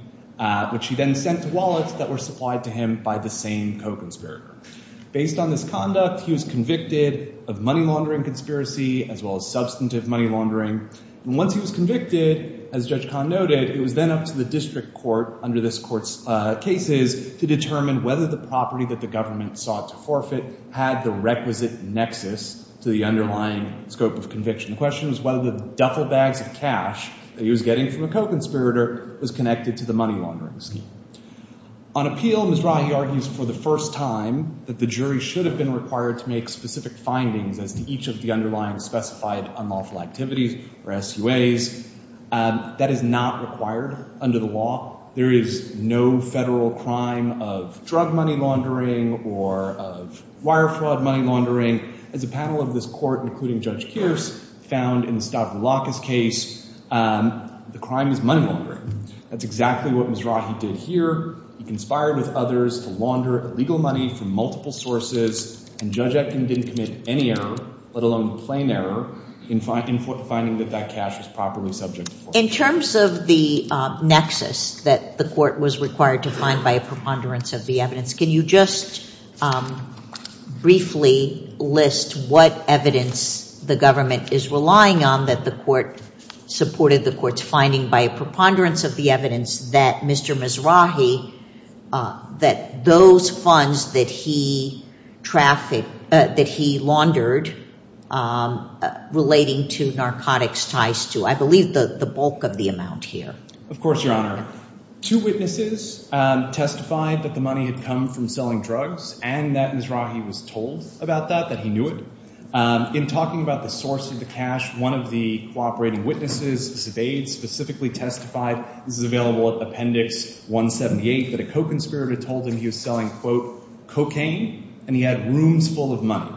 which he then sent to wallets that were supplied to him by the same co-conspirator. Based on this conduct, he was convicted of money laundering conspiracy as well as substantive money laundering. And once he was convicted, as Judge Kahn noted, it was then up to district court under this court's cases to determine whether the property that the government sought to forfeit had the requisite nexus to the underlying scope of conviction. The question was whether the duffel bags of cash that he was getting from a co-conspirator was connected to the money laundering scheme. On appeal, Mizrahi argues for the first time that the jury should have been required to make specific findings as to each of the underlying specified unlawful activities or SUAs. That is not required under the law. There is no federal crime of drug money laundering or of wire fraud money laundering. As a panel of this court, including Judge Kearse, found in the Stavroulakis case, the crime is money laundering. That's exactly what Mizrahi did here. He conspired with others to launder illegal money from multiple sources, and Judge finding that that cash was properly subject. In terms of the nexus that the court was required to find by a preponderance of the evidence, can you just briefly list what evidence the government is relying on that the court supported the court's finding by a preponderance of the evidence that Mr. Mizrahi that those funds that he trafficked, that he laundered relating to narcotics ties to, I believe, the bulk of the amount here? Of course, Your Honor. Two witnesses testified that the money had come from selling drugs and that Mizrahi was told about that, that he knew it. In talking about the source of the cash, one of the cooperating witnesses, Sevaid, specifically testified, this is available at Appendix 178, that a co-conspirator told him he was selling, quote, cocaine and he had rooms full of money.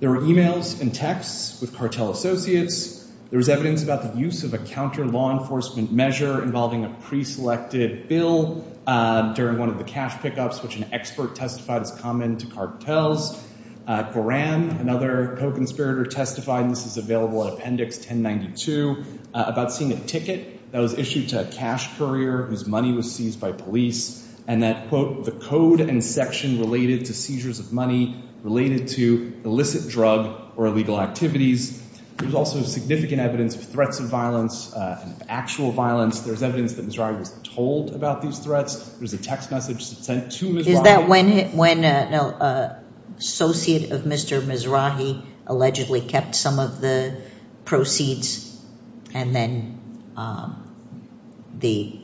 There were emails and texts with cartel associates. There was evidence about the use of a counter law enforcement measure involving a pre-selected bill during one of the cash pickups, which an expert testified is common to cartels. Coram, another co-conspirator testified, and this is available at Appendix 1092, about seeing a ticket that was issued to a cash courier whose money was seized by police and that, quote, the code and section related to seizures of money related to illicit drug or illegal activities. There's also significant evidence of threats of violence and actual violence. There's evidence that Mizrahi was told about these threats. There's a text message sent to Mizrahi. Is that when an associate of Mr. Mizrahi allegedly kept some of the proceeds and then the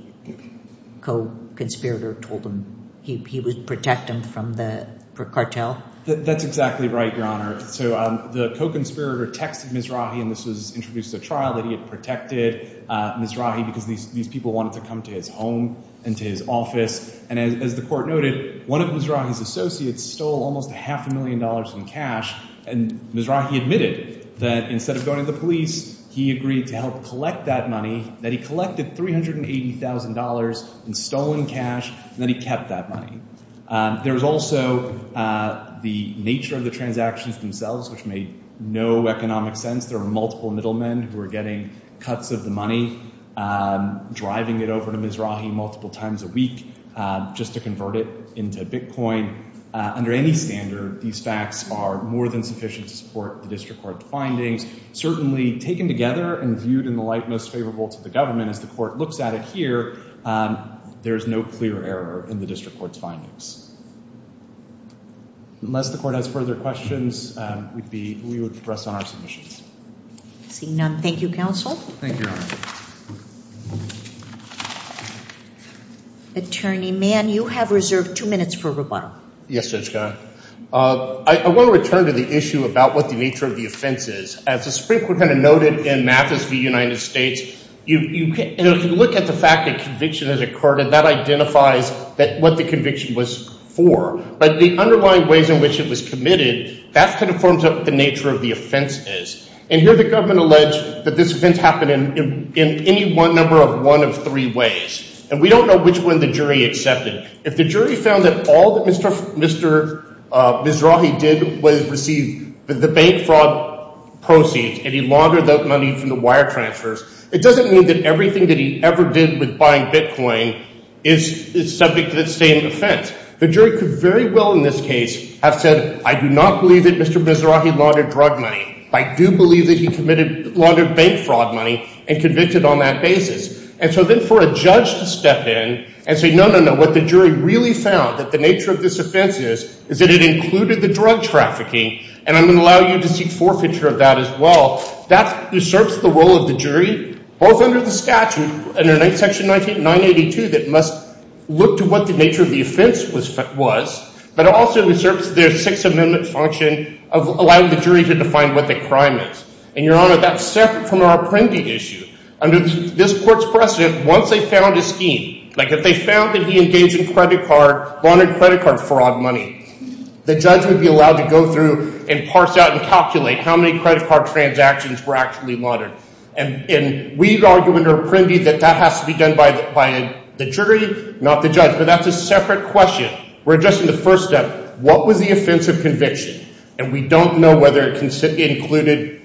co-conspirator told him he would protect him from the cartel? That's exactly right, Your Honor. So the co-conspirator texted Mizrahi, and this was introduced at trial, that he had protected Mizrahi because these people wanted to come to his home and to his office. And as the court noted, one of Mizrahi's associates stole almost a half a He agreed to help collect that money, that he collected $380,000 in stolen cash, and that he kept that money. There was also the nature of the transactions themselves, which made no economic sense. There were multiple middlemen who were getting cuts of the money, driving it over to Mizrahi multiple times a week just to convert it into Bitcoin. Under any standard, these facts are more than sufficient to support the district court findings. Certainly taken together and viewed in the light most favorable to the government, as the court looks at it here, there is no clear error in the district court's findings. Unless the court has further questions, we would press on our submissions. Seeing none, thank you, counsel. Thank you, Your Honor. Attorney Mann, you have reserved two minutes for rebuttal. Yes, Judge Kahn. I want to return to the issue about what the nature of the offense is. As the Supreme Court noted in Mathis v. United States, you look at the fact that conviction has occurred, and that identifies what the conviction was for. But the underlying ways in which it was committed, that kind of forms out what the nature of the offense is. And here, the government alleged that this offense happened in any number of one of three ways. And we don't which one the jury accepted. If the jury found that all that Mr. Mizrahi did was receive the bank fraud proceeds, and he laundered that money from the wire transfers, it doesn't mean that everything that he ever did with buying Bitcoin is subject to the same offense. The jury could very well, in this case, have said, I do not believe that Mr. Mizrahi laundered drug money. I do believe that he committed laundered bank fraud money and convicted on that basis. And so for a judge to step in and say, no, no, no, what the jury really found, that the nature of this offense is, is that it included the drug trafficking, and I'm going to allow you to seek forfeiture of that as well, that usurps the role of the jury, both under the statute, under Section 982, that must look to what the nature of the offense was, but also usurps their Sixth Amendment function of allowing the jury to define what the crime is. And, Your Honor, that's separate from our Apprendi issue. Under this court's precedent, once they found a scheme, like if they found that he engaged in credit card, laundered credit card fraud money, the judge would be allowed to go through and parse out and calculate how many credit card transactions were actually laundered. And, and we argue under Apprendi that that has to be done by, by the jury, not the judge. But that's a separate question. We're addressing the first step. What was the offense of conviction? And we don't know whether it included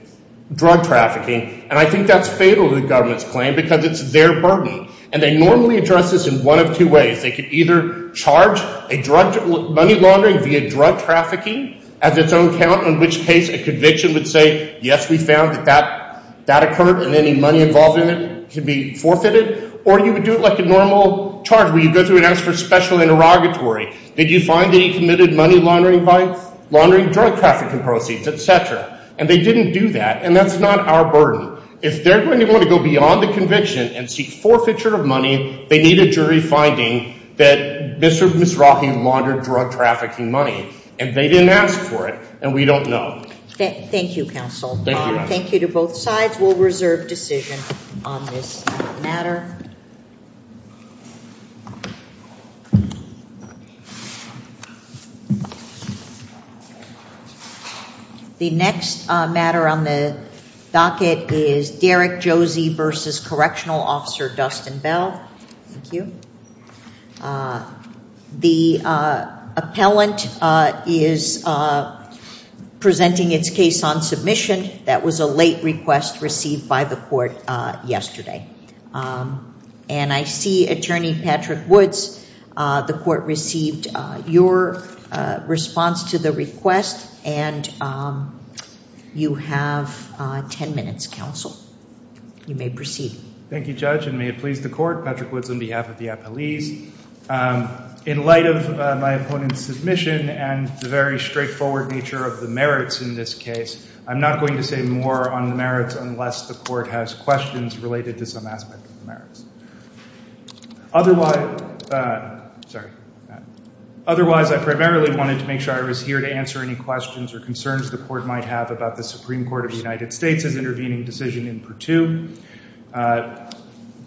drug trafficking, and I think that's fatal to the government's claim because it's their burden. And they normally address this in one of two ways. They could either charge a drug, money laundering via drug trafficking as its own count, in which case a conviction would say, yes, we found that that, that occurred, and any money involved in it can be forfeited. Or you would do it like a normal charge, where you go and ask for special interrogatory. Did you find that he committed money laundering by, laundering drug trafficking proceeds, etc. And they didn't do that, and that's not our burden. If they're going to want to go beyond the conviction and seek forfeiture of money, they need a jury finding that Mr. and Ms. Rahim laundered drug trafficking money, and they didn't ask for it, and we don't know. Thank you, counsel. Thank you to both sides. We'll reserve decision on this matter. The next matter on the docket is Derek Josie versus Correctional Officer Dustin Bell. Thank you. The appellant is presenting its case on submission. That was a late request received by the court yesterday, and I see Attorney Patrick Woods. The court received your response to the request, and you have 10 minutes, counsel. You may proceed. Thank you, Judge, and may it be so. In light of my opponent's submission and the very straightforward nature of the merits in this case, I'm not going to say more on the merits unless the court has questions related to some aspect of the merits. Otherwise, I primarily wanted to make sure I was here to answer any questions or concerns the court might have about the Supreme Court of the United States intervening decision in Purtube.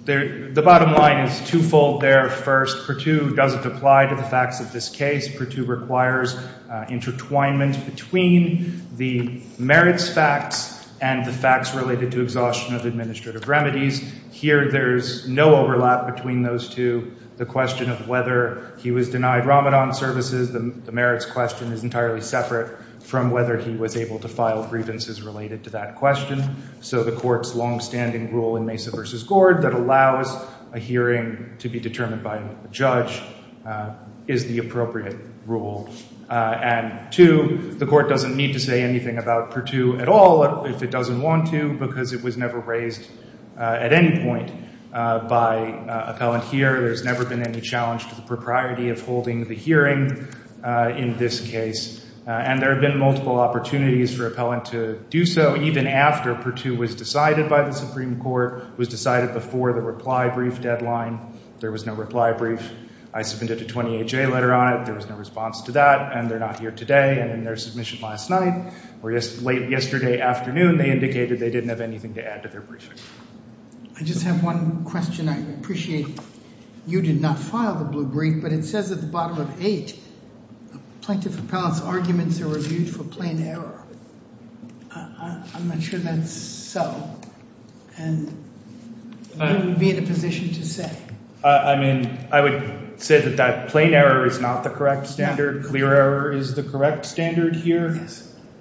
The bottom line is twofold there. First, Purtube doesn't apply to the facts of this case. Purtube requires intertwinement between the merits facts and the facts related to exhaustion of administrative remedies. Here, there's no overlap between those two. The question of whether he was denied Ramadan services, the merits question is entirely separate from whether he was able to file grievances related to that question. So the court's long-standing rule in Mesa v. Gord that allows a hearing to be determined by a judge is the appropriate rule. And two, the court doesn't need to say anything about Purtube at all if it doesn't want to because it was never raised at any point by appellant here. There's never been any challenge to the propriety of holding the hearing in this case. And there have been multiple opportunities for appellant to do so even after Purtube was decided by the Supreme Court, was decided before the reply brief deadline. There was no reply brief. I submitted a 28-J letter on it. There was no response to that. And they're not here today. And in their submission last night or late yesterday afternoon, they indicated they didn't have anything to add to their briefing. I just have one question. I appreciate you did not file the blue brief, but it says at the bottom of eight, plaintiff appellant's arguments are reviewed for plain error. I'm not sure that's so. And who would be in a position to say? I mean, I would say that that plain error is not the correct standard. Clear error is the correct standard here.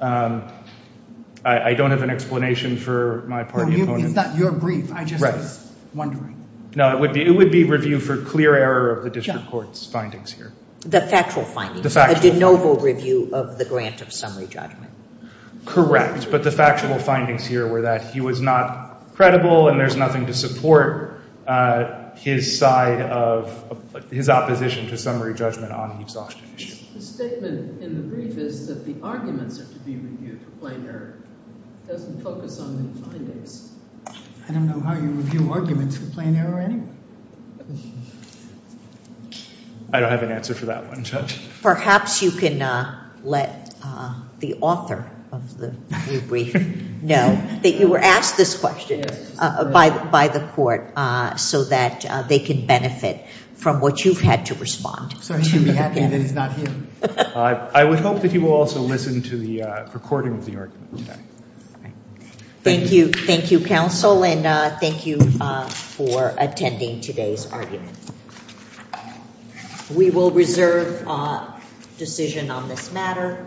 I don't have an explanation for my party opponents. It's not your brief. I just was wondering. No, it would be review for clear error of the district court's findings here. The factual findings. The factual findings. A de noble review of the grant of summary judgment. Correct. But the factual findings here were that he was not credible and there's nothing to support his side of his opposition to summary judgment on the exhaustion issue. The statement in the brief is that the arguments are to be reviewed for plain error. It doesn't focus on the findings. I don't know how you review arguments for plain error anyway. I don't have an answer for that one, Judge. Perhaps you can let the author of the brief know that you were asked this question by the court so that they can benefit from what you've had to respond. So I should be happy that he's not here. I would hope that he will also listen to the recording of the argument today. Thank you. Thank you, counsel. And thank you for attending today's argument. We will reserve a decision on this matter.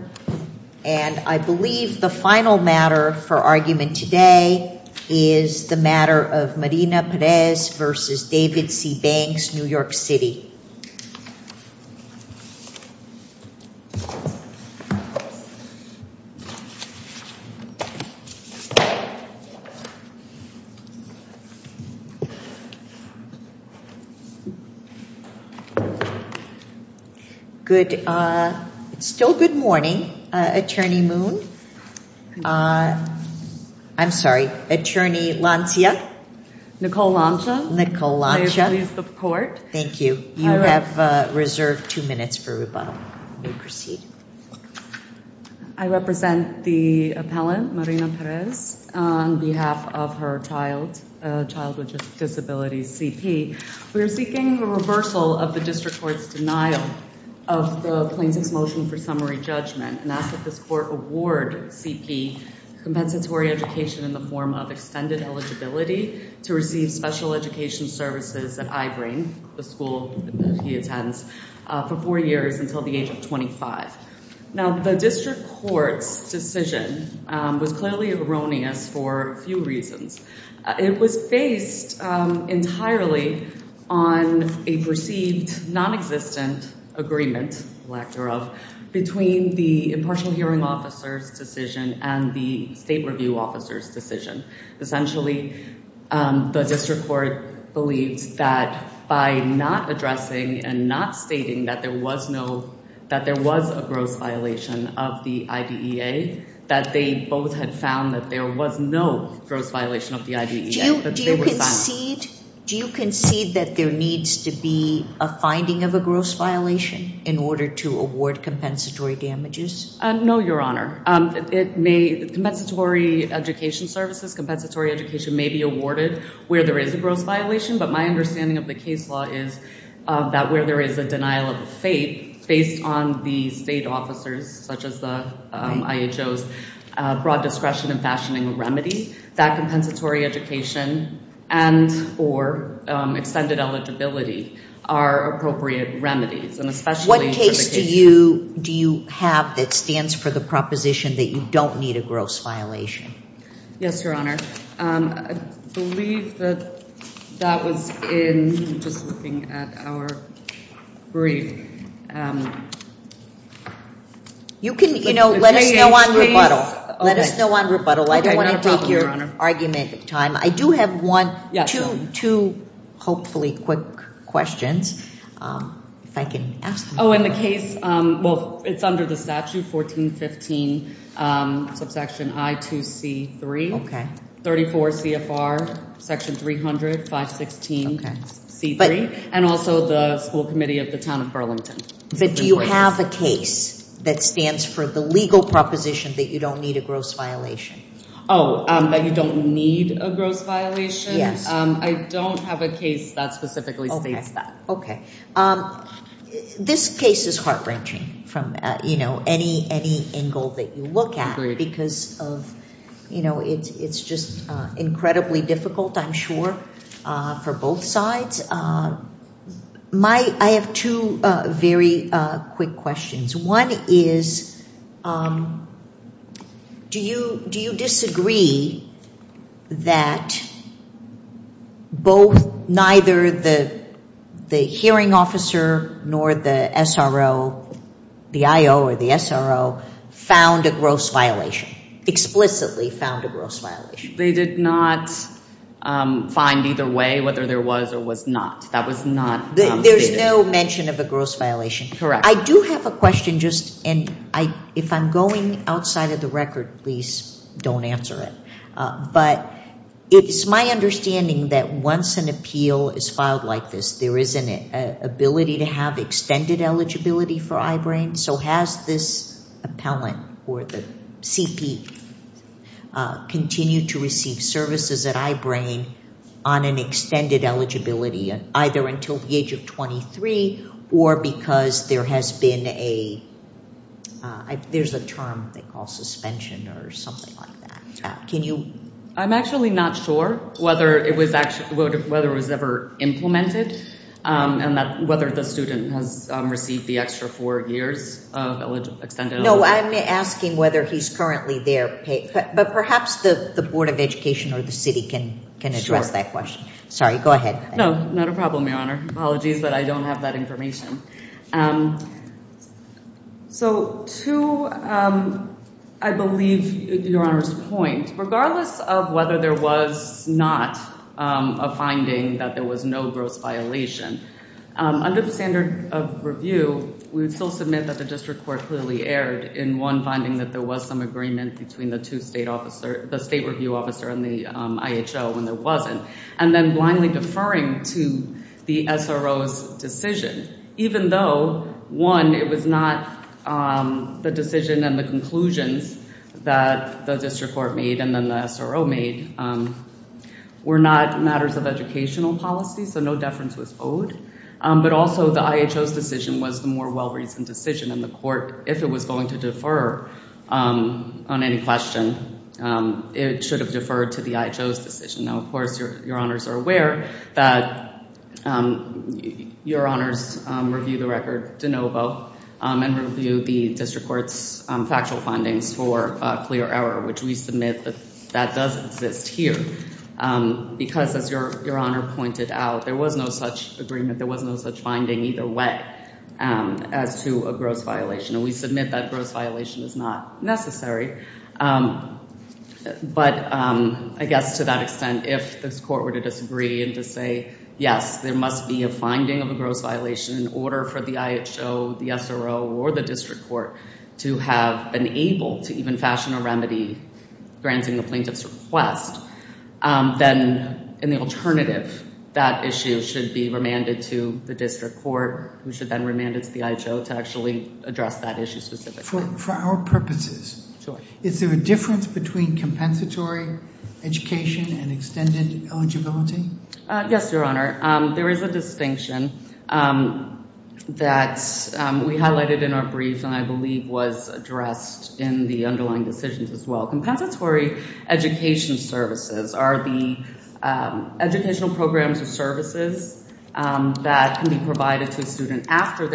And I believe the final matter for argument today is the matter of Marina Perez versus David C. Banks, New York City. Thank you. Good. It's still good morning, Attorney Moon. I'm sorry, Attorney Lancia. Nicole Lancia. May it please the court. Thank you. You have reserved two minutes for rebuttal. You may proceed. I represent the appellant, Marina Perez, on behalf of her child with disabilities, C.P. We are seeking a reversal of the district court's denial of the plaintiff's motion for summary judgment and ask that this court award C.P. compensatory education in the form of extended eligibility to receive special education services at I-BRAIN, the school that he attends, for four years until the age of 25. Now, the district court's decision was clearly erroneous for a few reasons. It was based entirely on a perceived non-existent agreement, lack thereof, between the impartial hearing officer's decision and the state review officer's decision. Essentially, the district court believes that by not addressing and not stating that there was no, that there was a gross violation of the IDEA, that they both had found that there was no gross violation of the IDEA. Do you concede that there needs to be a finding of a gross violation in order to award compensatory damages? No, Your Honor. Compensatory education services, compensatory education may be awarded where there is a gross violation, but my understanding of the case law is that where there is a denial of the fate, based on the state officers, such as the IHO's broad discretion in fashioning remedies, that compensatory education and or extended eligibility are appropriate remedies. What case do you have that stands for the proposition that you don't need a gross violation? Yes, Your Honor. I believe that was in, just looking at our brief. You can, you know, let us know on rebuttal. Let us know on rebuttal. I don't want to take your argument time. I do have one, two, hopefully quick questions, if I can ask them. Oh, in the case, well, it's under the statute, 1415 subsection I2C3, 34 CFR section 300, 516 C3, and also the school committee of the town of Burlington. But do you have a case that stands for the legal proposition that you don't need a gross violation? Oh, that you don't need a gross violation? Yes. I don't have a case that specifically states that. Okay. This case is heart-wrenching from, you know, any angle that you look at because of, you know, it's just incredibly difficult, I'm sure, for both sides. My, I have two very quick questions. One is, do you disagree that both, neither the hearing officer nor the SRO, the IO or the SRO, found a gross violation, explicitly found a gross violation? They did not find either way, whether there was or was not. That was not. There's no mention of a gross violation? Correct. I do have a question, just, and I, if I'm going outside of the record, please don't answer it. But it's my understanding that once an appeal is filed like this, there is an ability to have extended eligibility for I-BRAIN. So, has this appellant or the CP continued to receive services at I-BRAIN on an extended eligibility, either until the age of 23 or because there has been a, there's a term they call suspension or something like that. Can you? I'm actually not sure whether it was actually, whether it was ever implemented and that, whether the student has received the extra four years of extended eligibility. No, I'm asking whether he's currently there paid, but perhaps the Board of Education or the city can, can address that question. Sorry, go ahead. No, not a problem, Your Honor. Apologies, but I don't have that information. So, to, I believe, Your Honor's point, regardless of whether there was not a finding that there was no gross violation, under the standard of review, we would still submit that the district court clearly erred in one finding that there was some agreement between the two state officer, the state review officer and the IHO when there wasn't, and then blindly deferring to the SRO's decision, even though, one, it was not the decision and the conclusions that the district court made and then the SRO made were not matters of educational policy, so no deference was owed, but also the IHO's decision was the more well-reasoned decision and the court, if it was going to defer on any question, it should have deferred to the IHO's decision. Now, of course, Your Honors are aware that Your Honors review the record de novo and review the district court's factual findings for clear error, which we submit that that does exist here because, as Your Honor pointed out, there was no such agreement, there was no such finding either way as to a gross violation, and we submit that gross violation is not necessary, but I guess to that extent, if this court were to disagree and to say, yes, there must be a finding of a gross violation in order for the IHO, the SRO, or the district court to have been able to even fashion a remedy granting the plaintiff's request, then in the alternative, that issue should be remanded to the district court, who should then remand it to the IHO to actually address that issue specifically. For our purposes, is there a difference between compensatory education and extended eligibility? Yes, Your Honor. There is a distinction that we highlighted in our brief and I believe was addressed in the underlying decisions as well. Compensatory education services are the educational programs or services that can be provided to a student. Extended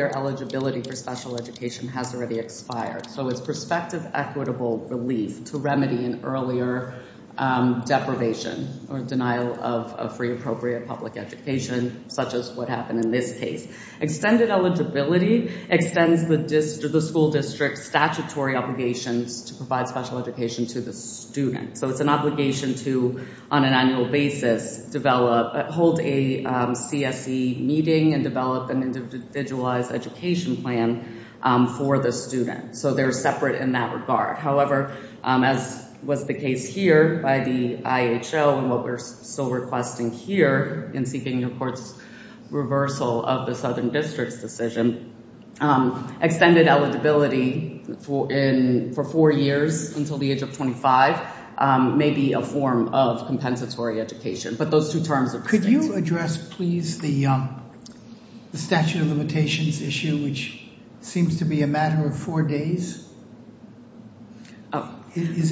eligibility extends the school district's statutory obligations to provide special education to the student. It's an obligation to, on an annual basis, hold a CSE meeting and develop an individualized education plan for the student. They're separate in that regard. However, as was the case here by the IHO and what we're still requesting here in seeking the court's reversal of the Southern District's decision, extended eligibility for four years until the age of 25 may be a form of compensatory education, but those two terms could you address, please, the statute of limitations issue, which seems to be a matter of four days? Oh, is it?